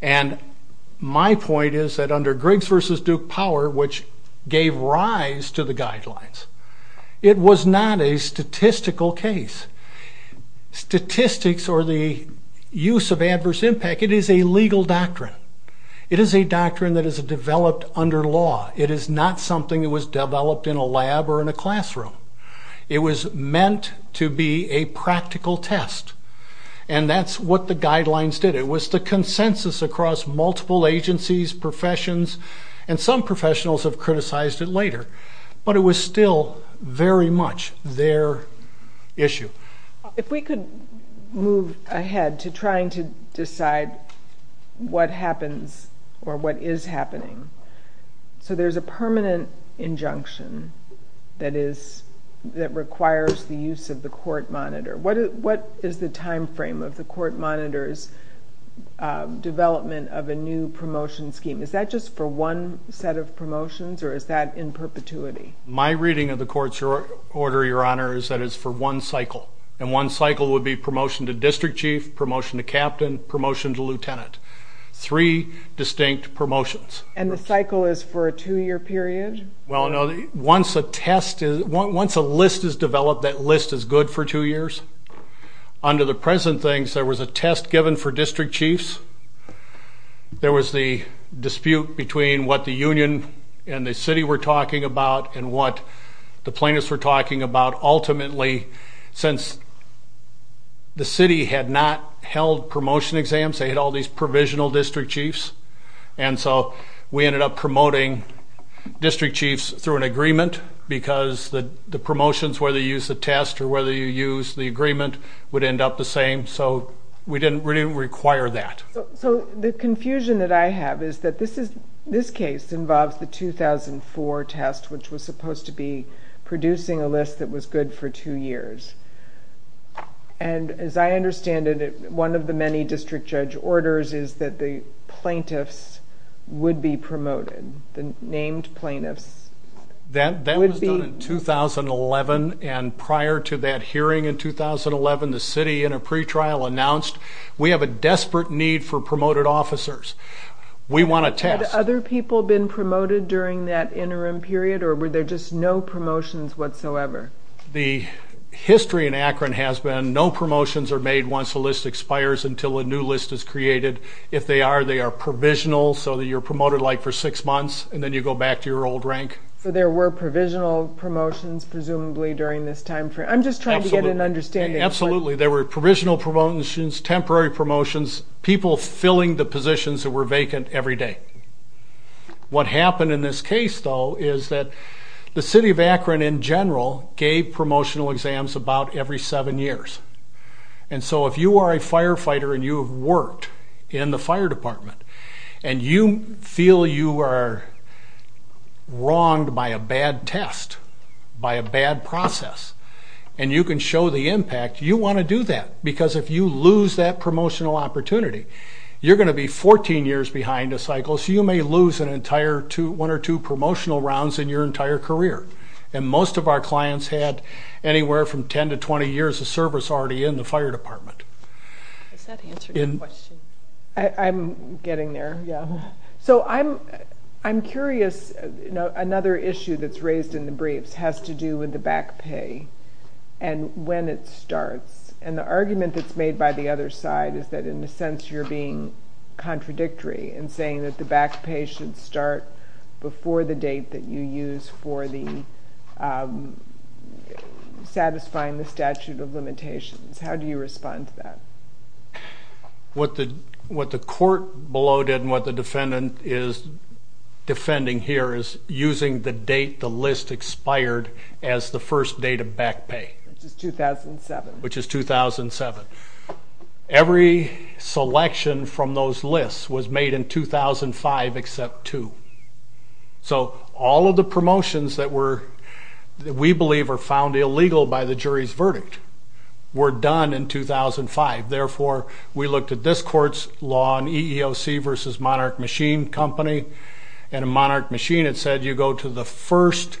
And my point is that under Griggs v. Duke Power, which gave rise to the guidelines, it was not a statistical case. Statistics or the use of adverse impact, it is a legal doctrine. It is a doctrine that is developed under law. It is not something that was developed in a lab or in a classroom. It was meant to be a practical test, and that's what the guidelines did. It was the consensus across multiple agencies, professions, and some professionals have criticized it later. But it was still very much their issue. If we could move ahead to trying to decide what happens or what is happening. So there's a permanent injunction that requires the use of the court monitor. What is the time frame of the court monitor's development of a new promotion scheme? Is that just for one set of promotions, or is that in perpetuity? My reading of the court's order, Your Honor, is that it's for one cycle. And one cycle would be promotion to district chief, promotion to captain, promotion to lieutenant. Three distinct promotions. And the cycle is for a two-year period? Once a list is developed, that list is good for two years. Under the present things, there was a test given for district chiefs. There was the dispute between what the union and the city were talking about and what the plaintiffs were talking about. Ultimately, since the city had not held promotion exams, they had all these provisional district chiefs, and so we ended up promoting district chiefs through an agreement because the promotions, whether you use the test or whether you use the agreement, would end up the same. So we didn't really require that. So the confusion that I have is that this case involves the 2004 test, which was supposed to be producing a list that was good for two years. And as I understand it, one of the many district judge orders is that the plaintiffs would be promoted, the named plaintiffs. That was done in 2011, and prior to that hearing in 2011, the city, in a pretrial, announced, we have a desperate need for promoted officers. We want a test. Had other people been promoted during that interim period, or were there just no promotions whatsoever? The history in Akron has been no promotions are made once a list expires until a new list is created. If they are, they are provisional, so you're promoted, like, for six months, and then you go back to your old rank. So there were provisional promotions, presumably, during this time frame. I'm just trying to get an understanding. Absolutely. There were provisional promotions, temporary promotions, people filling the positions that were vacant every day. What happened in this case, though, is that the city of Akron, in general, gave promotional exams about every seven years. And so if you are a firefighter and you have worked in the fire department and you feel you are wronged by a bad test, by a bad process, and you can show the impact, you want to do that. Because if you lose that promotional opportunity, you're going to be 14 years behind a cycle, so you may lose one or two promotional rounds in your entire career. And most of our clients had anywhere from 10 to 20 years of service already in the fire department. Does that answer your question? I'm getting there, yeah. So I'm curious. Another issue that's raised in the briefs has to do with the back pay and when it starts. And the argument that's made by the other side is that, in a sense, you're being contradictory in saying that the back pay should start before the date that you use for satisfying the statute of limitations. How do you respond to that? What the court below did and what the defendant is defending here is using the date the list expired as the first date of back pay. Which is 2007. Which is 2007. Every selection from those lists was made in 2005 except two. So all of the promotions that we believe are found illegal by the jury's Therefore, we looked at this court's law on EEOC versus Monarch Machine Company, and in Monarch Machine it said you go to the first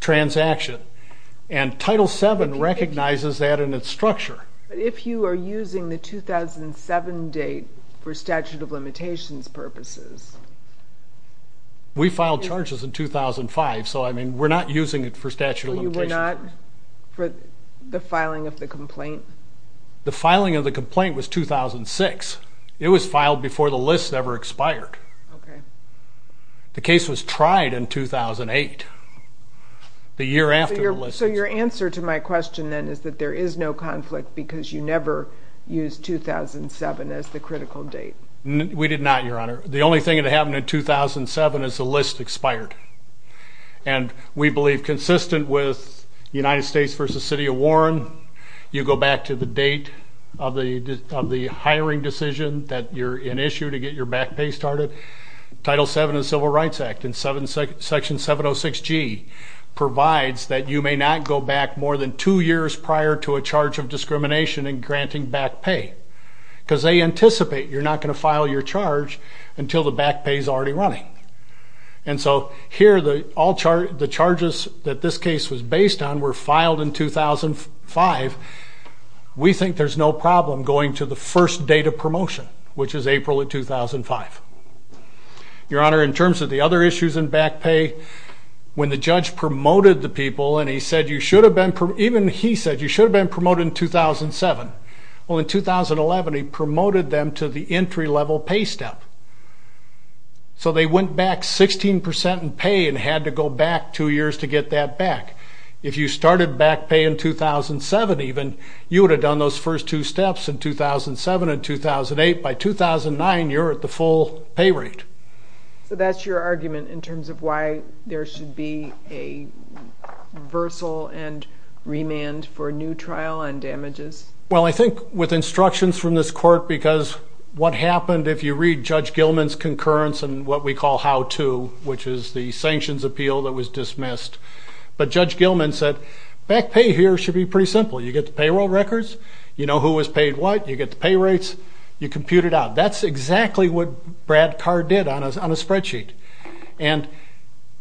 transaction. And Title VII recognizes that in its structure. But if you are using the 2007 date for statute of limitations purposes... We filed charges in 2005, so, I mean, we're not using it for statute of limitations. So you were not for the filing of the complaint? The filing of the complaint was 2006. It was filed before the list ever expired. Okay. The case was tried in 2008, the year after the list expired. So your answer to my question then is that there is no conflict because you never used 2007 as the critical date. We did not, Your Honor. The only thing that happened in 2007 is the list expired. And we believe consistent with United States v. City of Warren, you go back to the date of the hiring decision that you're in issue to get your back pay started. Title VII of the Civil Rights Act in Section 706G provides that you may not go back more than two years prior to a charge of discrimination in granting back pay because they anticipate you're not going to file your charge until the back pay is already running. And so here, the charges that this case was based on were filed in 2005. We think there's no problem going to the first date of promotion, which is April of 2005. Your Honor, in terms of the other issues in back pay, when the judge promoted the people and he said you should have been promoted, even he said you should have been promoted in 2007. Well, in 2011, he promoted them to the entry-level pay step. So they went back 16% in pay and had to go back two years to get that back. If you started back pay in 2007, even, you would have done those first two steps in 2007 and 2008. By 2009, you're at the full pay rate. So that's your argument in terms of why there should be a reversal and remand for a new trial on damages? Well, I think with instructions from this court, because what happened if you read Judge Gilman's concurrence and what we call how-to, which is the sanctions appeal that was dismissed, but Judge Gilman said back pay here should be pretty simple. You get the payroll records, you know who was paid what, you get the pay rates, you compute it out. That's exactly what Brad Carr did on a spreadsheet. And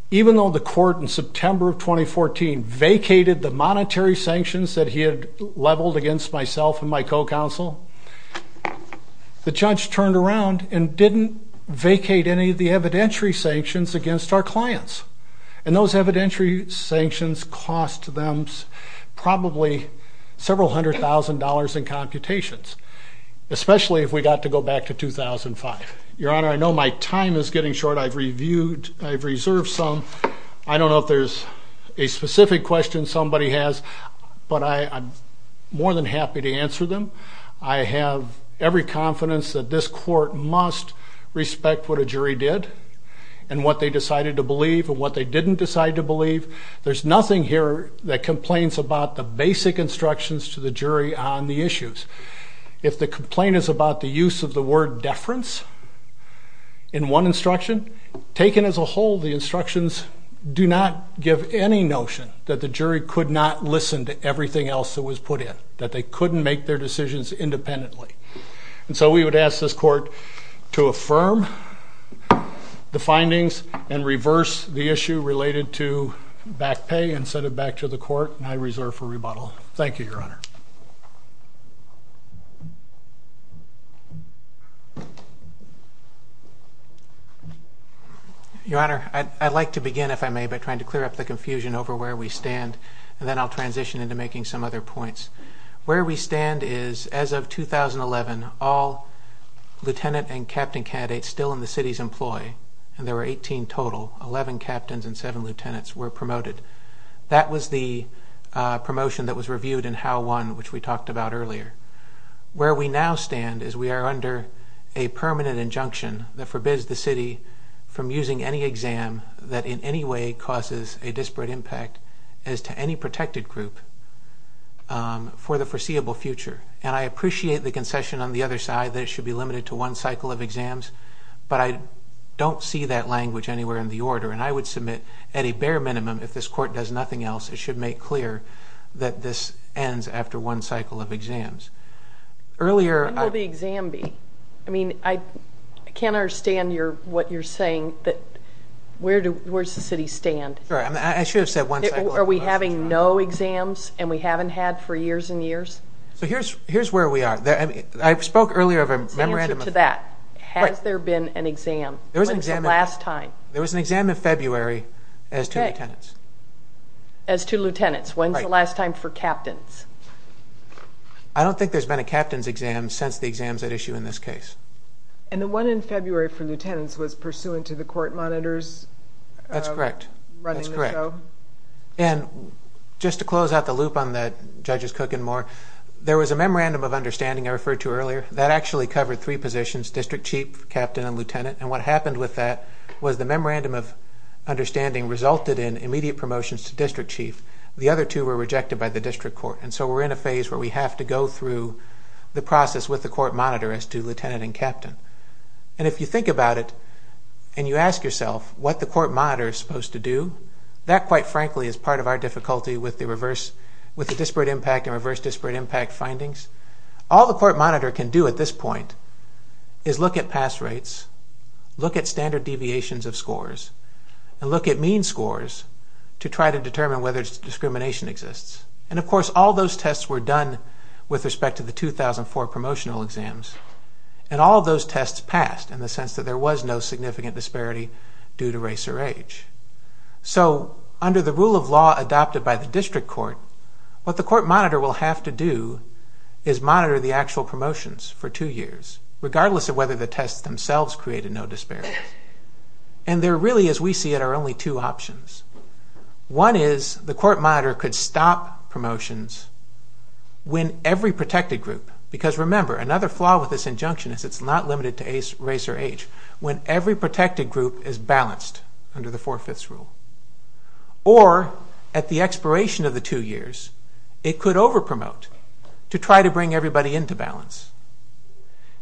even though the court in September of 2014 vacated the monetary sanctions that he had leveled against myself and my co-counsel, the judge turned around and didn't vacate any of the evidentiary sanctions against our clients. And those evidentiary sanctions cost them probably several hundred thousand dollars in computations, especially if we got to go back to 2005. Your Honor, I know my time is getting short. I've reviewed, I've reserved some. I don't know if there's a specific question somebody has, but I'm more than happy to answer them. I have every confidence that this court must respect what a jury did and what they decided to believe and what they didn't decide to believe. There's nothing here that complains about the basic instructions to the jury on the issues. If the complaint is about the use of the word deference in one instruction, taken as a whole, the instructions do not give any notion that the jury could not listen to everything else that was put in, that they couldn't make their decisions independently. And so we would ask this court to affirm the findings and reverse the issue related to back pay and send it back to the court, and I reserve for rebuttal. Thank you, Your Honor. Your Honor, I'd like to begin, if I may, by trying to clear up the confusion over where we stand, and then I'll transition into making some other points. Where we stand is, as of 2011, all lieutenant and captain candidates still in the city's employ, and there were 18 total, 11 captains and 7 lieutenants were promoted. That was the promotion that was reviewed in Howe 1, which we talked about earlier. Where we now stand is we are under a permanent injunction that forbids the city from using any exam that in any way causes a disparate impact as to any protected group for the foreseeable future. And I appreciate the concession on the other side that it should be limited to one cycle of exams, but I don't see that language anywhere in the order, and I would submit at a bare minimum, if this court does nothing else, it should make clear that this ends after one cycle of exams. When will the exam be? I mean, I can't understand what you're saying, that where does the city stand? I should have said one cycle. Are we having no exams and we haven't had for years and years? So here's where we are. I spoke earlier of a memorandum of... Answer to that. Has there been an exam? When's the last time? There was an exam in February as two lieutenants. As two lieutenants. When's the last time for captains? I don't think there's been a captains exam since the exams at issue in this case. And the one in February for lieutenants was pursuant to the court monitors running the show? That's correct. And just to close out the loop on that, Judges Cook and Moore, there was a memorandum of understanding I referred to earlier. That actually covered three positions, district chief, captain, and lieutenant, and what happened with that was the memorandum of understanding resulted in immediate promotions to district chief. The other two were rejected by the district court, and so we're in a phase where we have to go through the process with the court monitor as to lieutenant and captain. And if you think about it and you ask yourself what the court monitor is supposed to do, that, quite frankly, is part of our difficulty with the disparate impact and reverse disparate impact findings. All the court monitor can do at this point is look at pass rates, look at standard deviations of scores, and look at mean scores to try to determine whether discrimination exists. And, of course, all those tests were done with respect to the 2004 promotional exams, and all of those tests passed in the sense that there was no significant disparity due to race or age. So under the rule of law adopted by the district court, what the court monitor will have to do is monitor the actual promotions for two years, regardless of whether the tests themselves created no disparities. And there really, as we see it, are only two options. One is the court monitor could stop promotions when every protected group, because, remember, another flaw with this injunction is it's not limited to race or age, when every protected group is balanced under the Four-Fifths Rule. Or, at the expiration of the two years, it could overpromote to try to bring everybody into balance.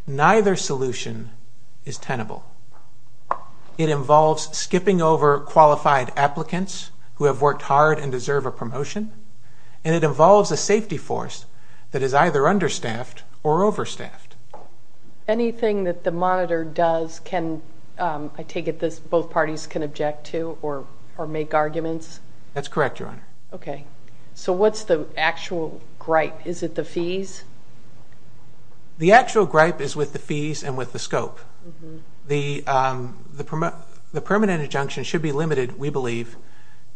Neither solution is tenable. It involves skipping over qualified applicants who have worked hard and deserve a promotion, and it involves a safety force that is either understaffed or overstaffed. Anything that the monitor does can, I take it, both parties can object to or make arguments? That's correct, Your Honor. Okay. So what's the actual gripe? Is it the fees? The actual gripe is with the fees and with the scope. The permanent injunction should be limited, we believe,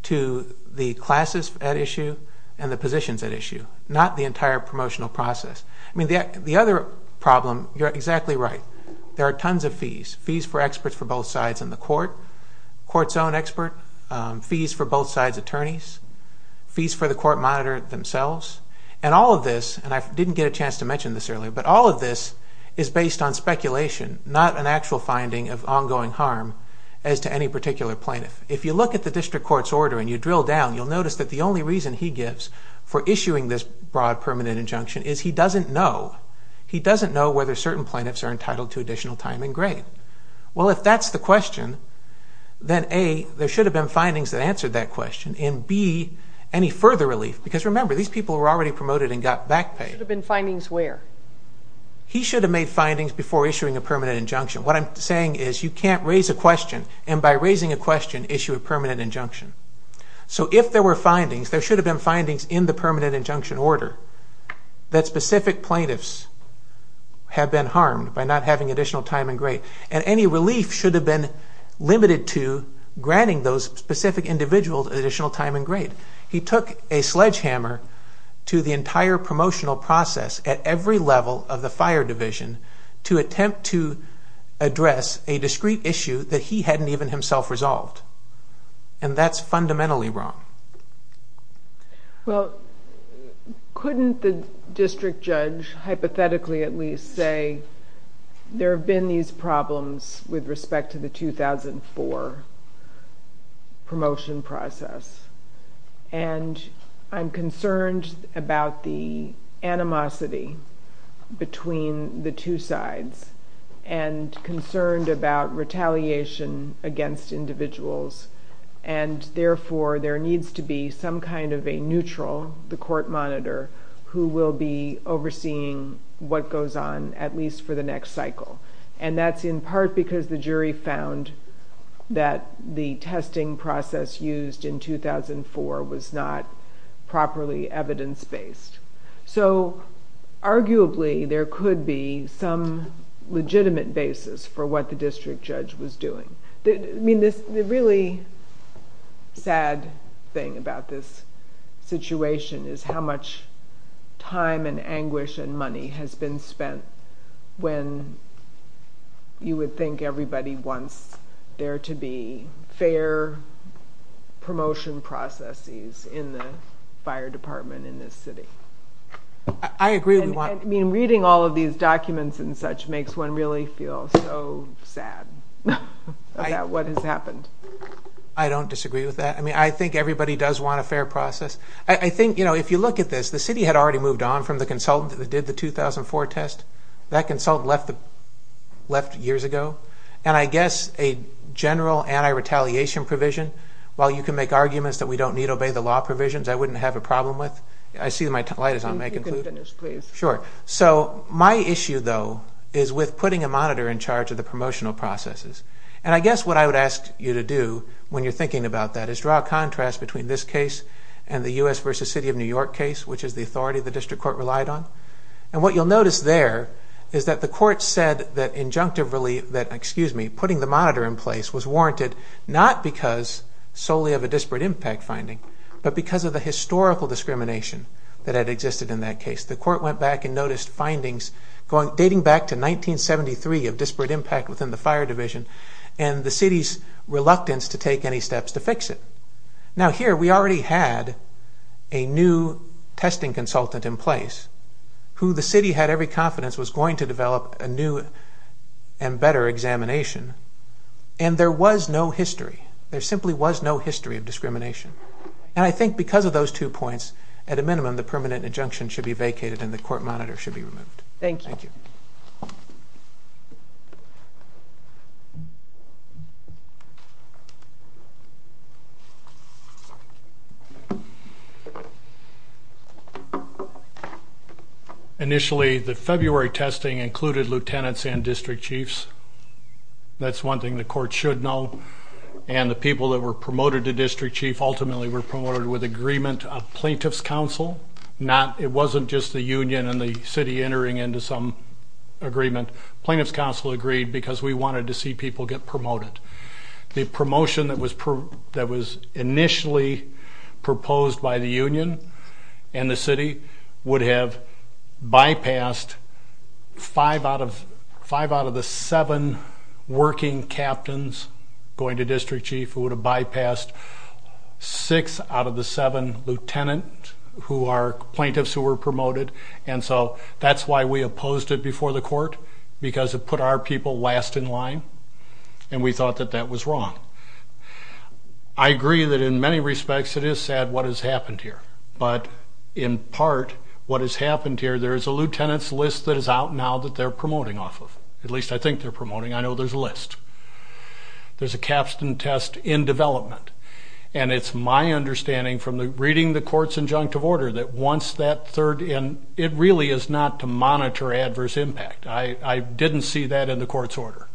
to the classes at issue and the positions at issue, not the entire promotional process. I mean, the other problem, you're exactly right, there are tons of fees, fees for experts for both sides in the court, court's own expert, fees for both sides' attorneys, fees for the court monitor themselves. And all of this, and I didn't get a chance to mention this earlier, but all of this is based on speculation, not an actual finding of ongoing harm as to any particular plaintiff. If you look at the district court's order and you drill down, you'll notice that the only reason he gives for issuing this broad permanent injunction is he doesn't know. He doesn't know whether certain plaintiffs are entitled to additional time and grade. Well, if that's the question, then A, there should have been findings that answered that question, and B, any further relief, because remember, these people were already promoted and got back pay. There should have been findings where? He should have made findings before issuing a permanent injunction. What I'm saying is you can't raise a question, and by raising a question, issue a permanent injunction. So if there were findings, there should have been findings in the permanent injunction order that specific plaintiffs have been harmed by not having additional time and grade, and any relief should have been limited to granting those specific individuals additional time and grade. He took a sledgehammer to the entire promotional process at every level of the fire division to attempt to address a discrete issue that he hadn't even himself resolved, and that's fundamentally wrong. Well, couldn't the district judge hypothetically at least say, there have been these problems with respect to the 2004 promotion process, and I'm concerned about the animosity between the two sides, and concerned about retaliation against individuals, and therefore there needs to be some kind of a neutral, the court monitor, who will be overseeing what goes on at least for the next cycle, and that's in part because the jury found that the testing process used in 2004 was not properly evidence-based. So arguably there could be some legitimate basis for what the district judge was doing. The really sad thing about this situation is how much time and anguish and money has been spent when you would think everybody wants there to be fair promotion processes in the fire department in this city. I agree. I mean, reading all of these documents and such makes one really feel so sad about what has happened. I don't disagree with that. I mean, I think everybody does want a fair process. I think, you know, if you look at this, the city had already moved on from the consultant that did the 2004 test. That consultant left years ago, and I guess a general anti-retaliation provision, while you can make arguments that we don't need to obey the law provisions, I wouldn't have a problem with. I see my light is on. Sure. So my issue, though, is with putting a monitor in charge of the promotional processes. And I guess what I would ask you to do when you're thinking about that is draw a contrast between this case and the U.S. v. City of New York case, which is the authority the district court relied on. And what you'll notice there is that the court said that injunctively that, excuse me, putting the monitor in place was warranted not because solely of a disparate impact finding, but because of the historical discrimination that had existed in that case. The court went back and noticed findings dating back to 1973 of disparate impact within the fire division and the city's reluctance to take any steps to fix it. Now, here we already had a new testing consultant in place who the city had every confidence was going to develop a new and better examination, and there was no history. There simply was no history of discrimination. And I think because of those two points, at a minimum, the permanent injunction should be vacated and the court monitor should be removed. Thank you. Initially, the February testing included lieutenants and district chiefs. That's one thing the court should know. And the people that were promoted to district chief ultimately were promoted with agreement of plaintiff's counsel. It wasn't just the union and the city entering into some agreement. Plaintiff's counsel agreed because we wanted to see people get promoted. The promotion that was initially proposed by the union and the city would have bypassed five out of the seven working captains going to district chief who would have bypassed six out of the seven lieutenants who are plaintiffs who were promoted. And so that's why we opposed it before the court, because it put our people last in line, and we thought that that was wrong. I agree that in many respects it is sad what has happened here, but in part what has happened here, there is a lieutenant's list that is out now that they're promoting off of. At least I think they're promoting. I know there's a list. There's a capstan test in development, and it's my understanding from reading the court's injunctive order that once that third in, it really is not to monitor adverse impact. I didn't see that in the court's order.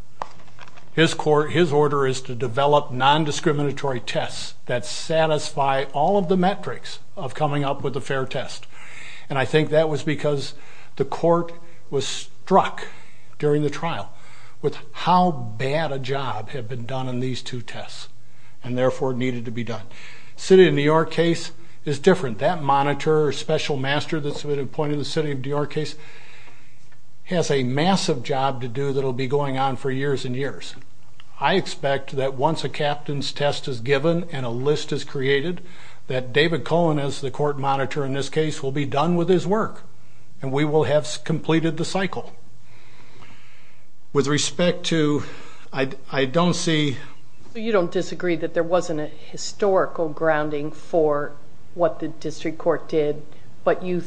His order is to develop nondiscriminatory tests that satisfy all of the metrics of coming up with a fair test, and I think that was because the court was struck during the trial with how bad a job had been done in these two tests and therefore needed to be done. City of New York case is different. That monitor or special master that's been appointed to the City of New York case has a massive job to do that'll be going on for years and years. I expect that once a captain's test is given and a list is created, that David Cohen, as the court monitor in this case, will be done with his work, and we will have completed the cycle. With respect to... I don't see... You don't disagree that there wasn't a historical grounding for what the district court did, of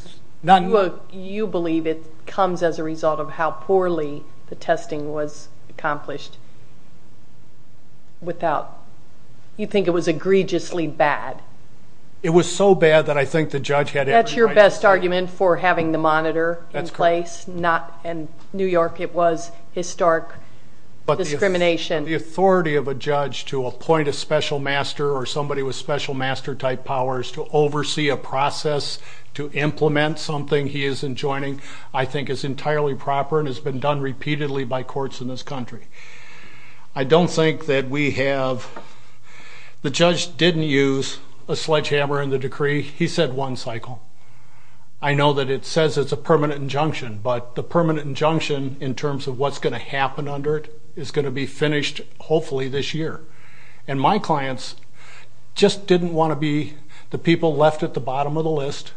how poorly the testing was accomplished without... You think it was egregiously bad. It was so bad that I think the judge had every right to say... That's your best argument for having the monitor in place, and New York, it was historic discrimination. The authority of a judge to appoint a special master or somebody with special master-type powers to oversee a process to implement something he isn't joining I think is entirely proper and has been done repeatedly by courts in this country. I don't think that we have... The judge didn't use a sledgehammer in the decree. He said one cycle. I know that it says it's a permanent injunction, but the permanent injunction, in terms of what's going to happen under it, is going to be finished, hopefully, this year. And my clients just didn't want to be the people left at the bottom of the list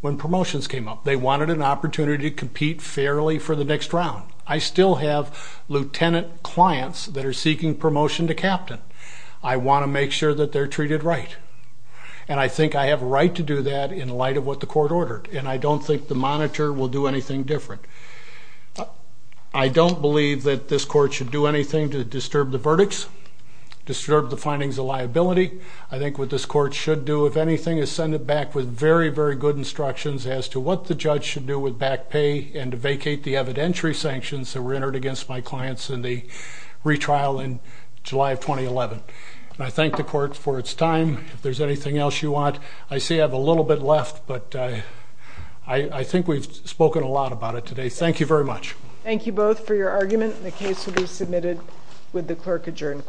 when promotions came up. They wanted an opportunity to compete fairly for the next round. I still have lieutenant clients that are seeking promotion to captain. I want to make sure that they're treated right. And I think I have a right to do that in light of what the court ordered, and I don't think the monitor will do anything different. I don't believe that this court should do anything to disturb the verdicts, disturb the findings of liability. I think what this court should do, if anything, is send it back with very, very good instructions as to what the judge should do with back pay and to vacate the evidentiary sanctions that were entered against my clients in the retrial in July of 2011. And I thank the court for its time. If there's anything else you want, I see I have a little bit left, but I think we've spoken a lot about it today. Thank you very much. Thank you both for your argument. The case will be submitted with the clerk adjourned.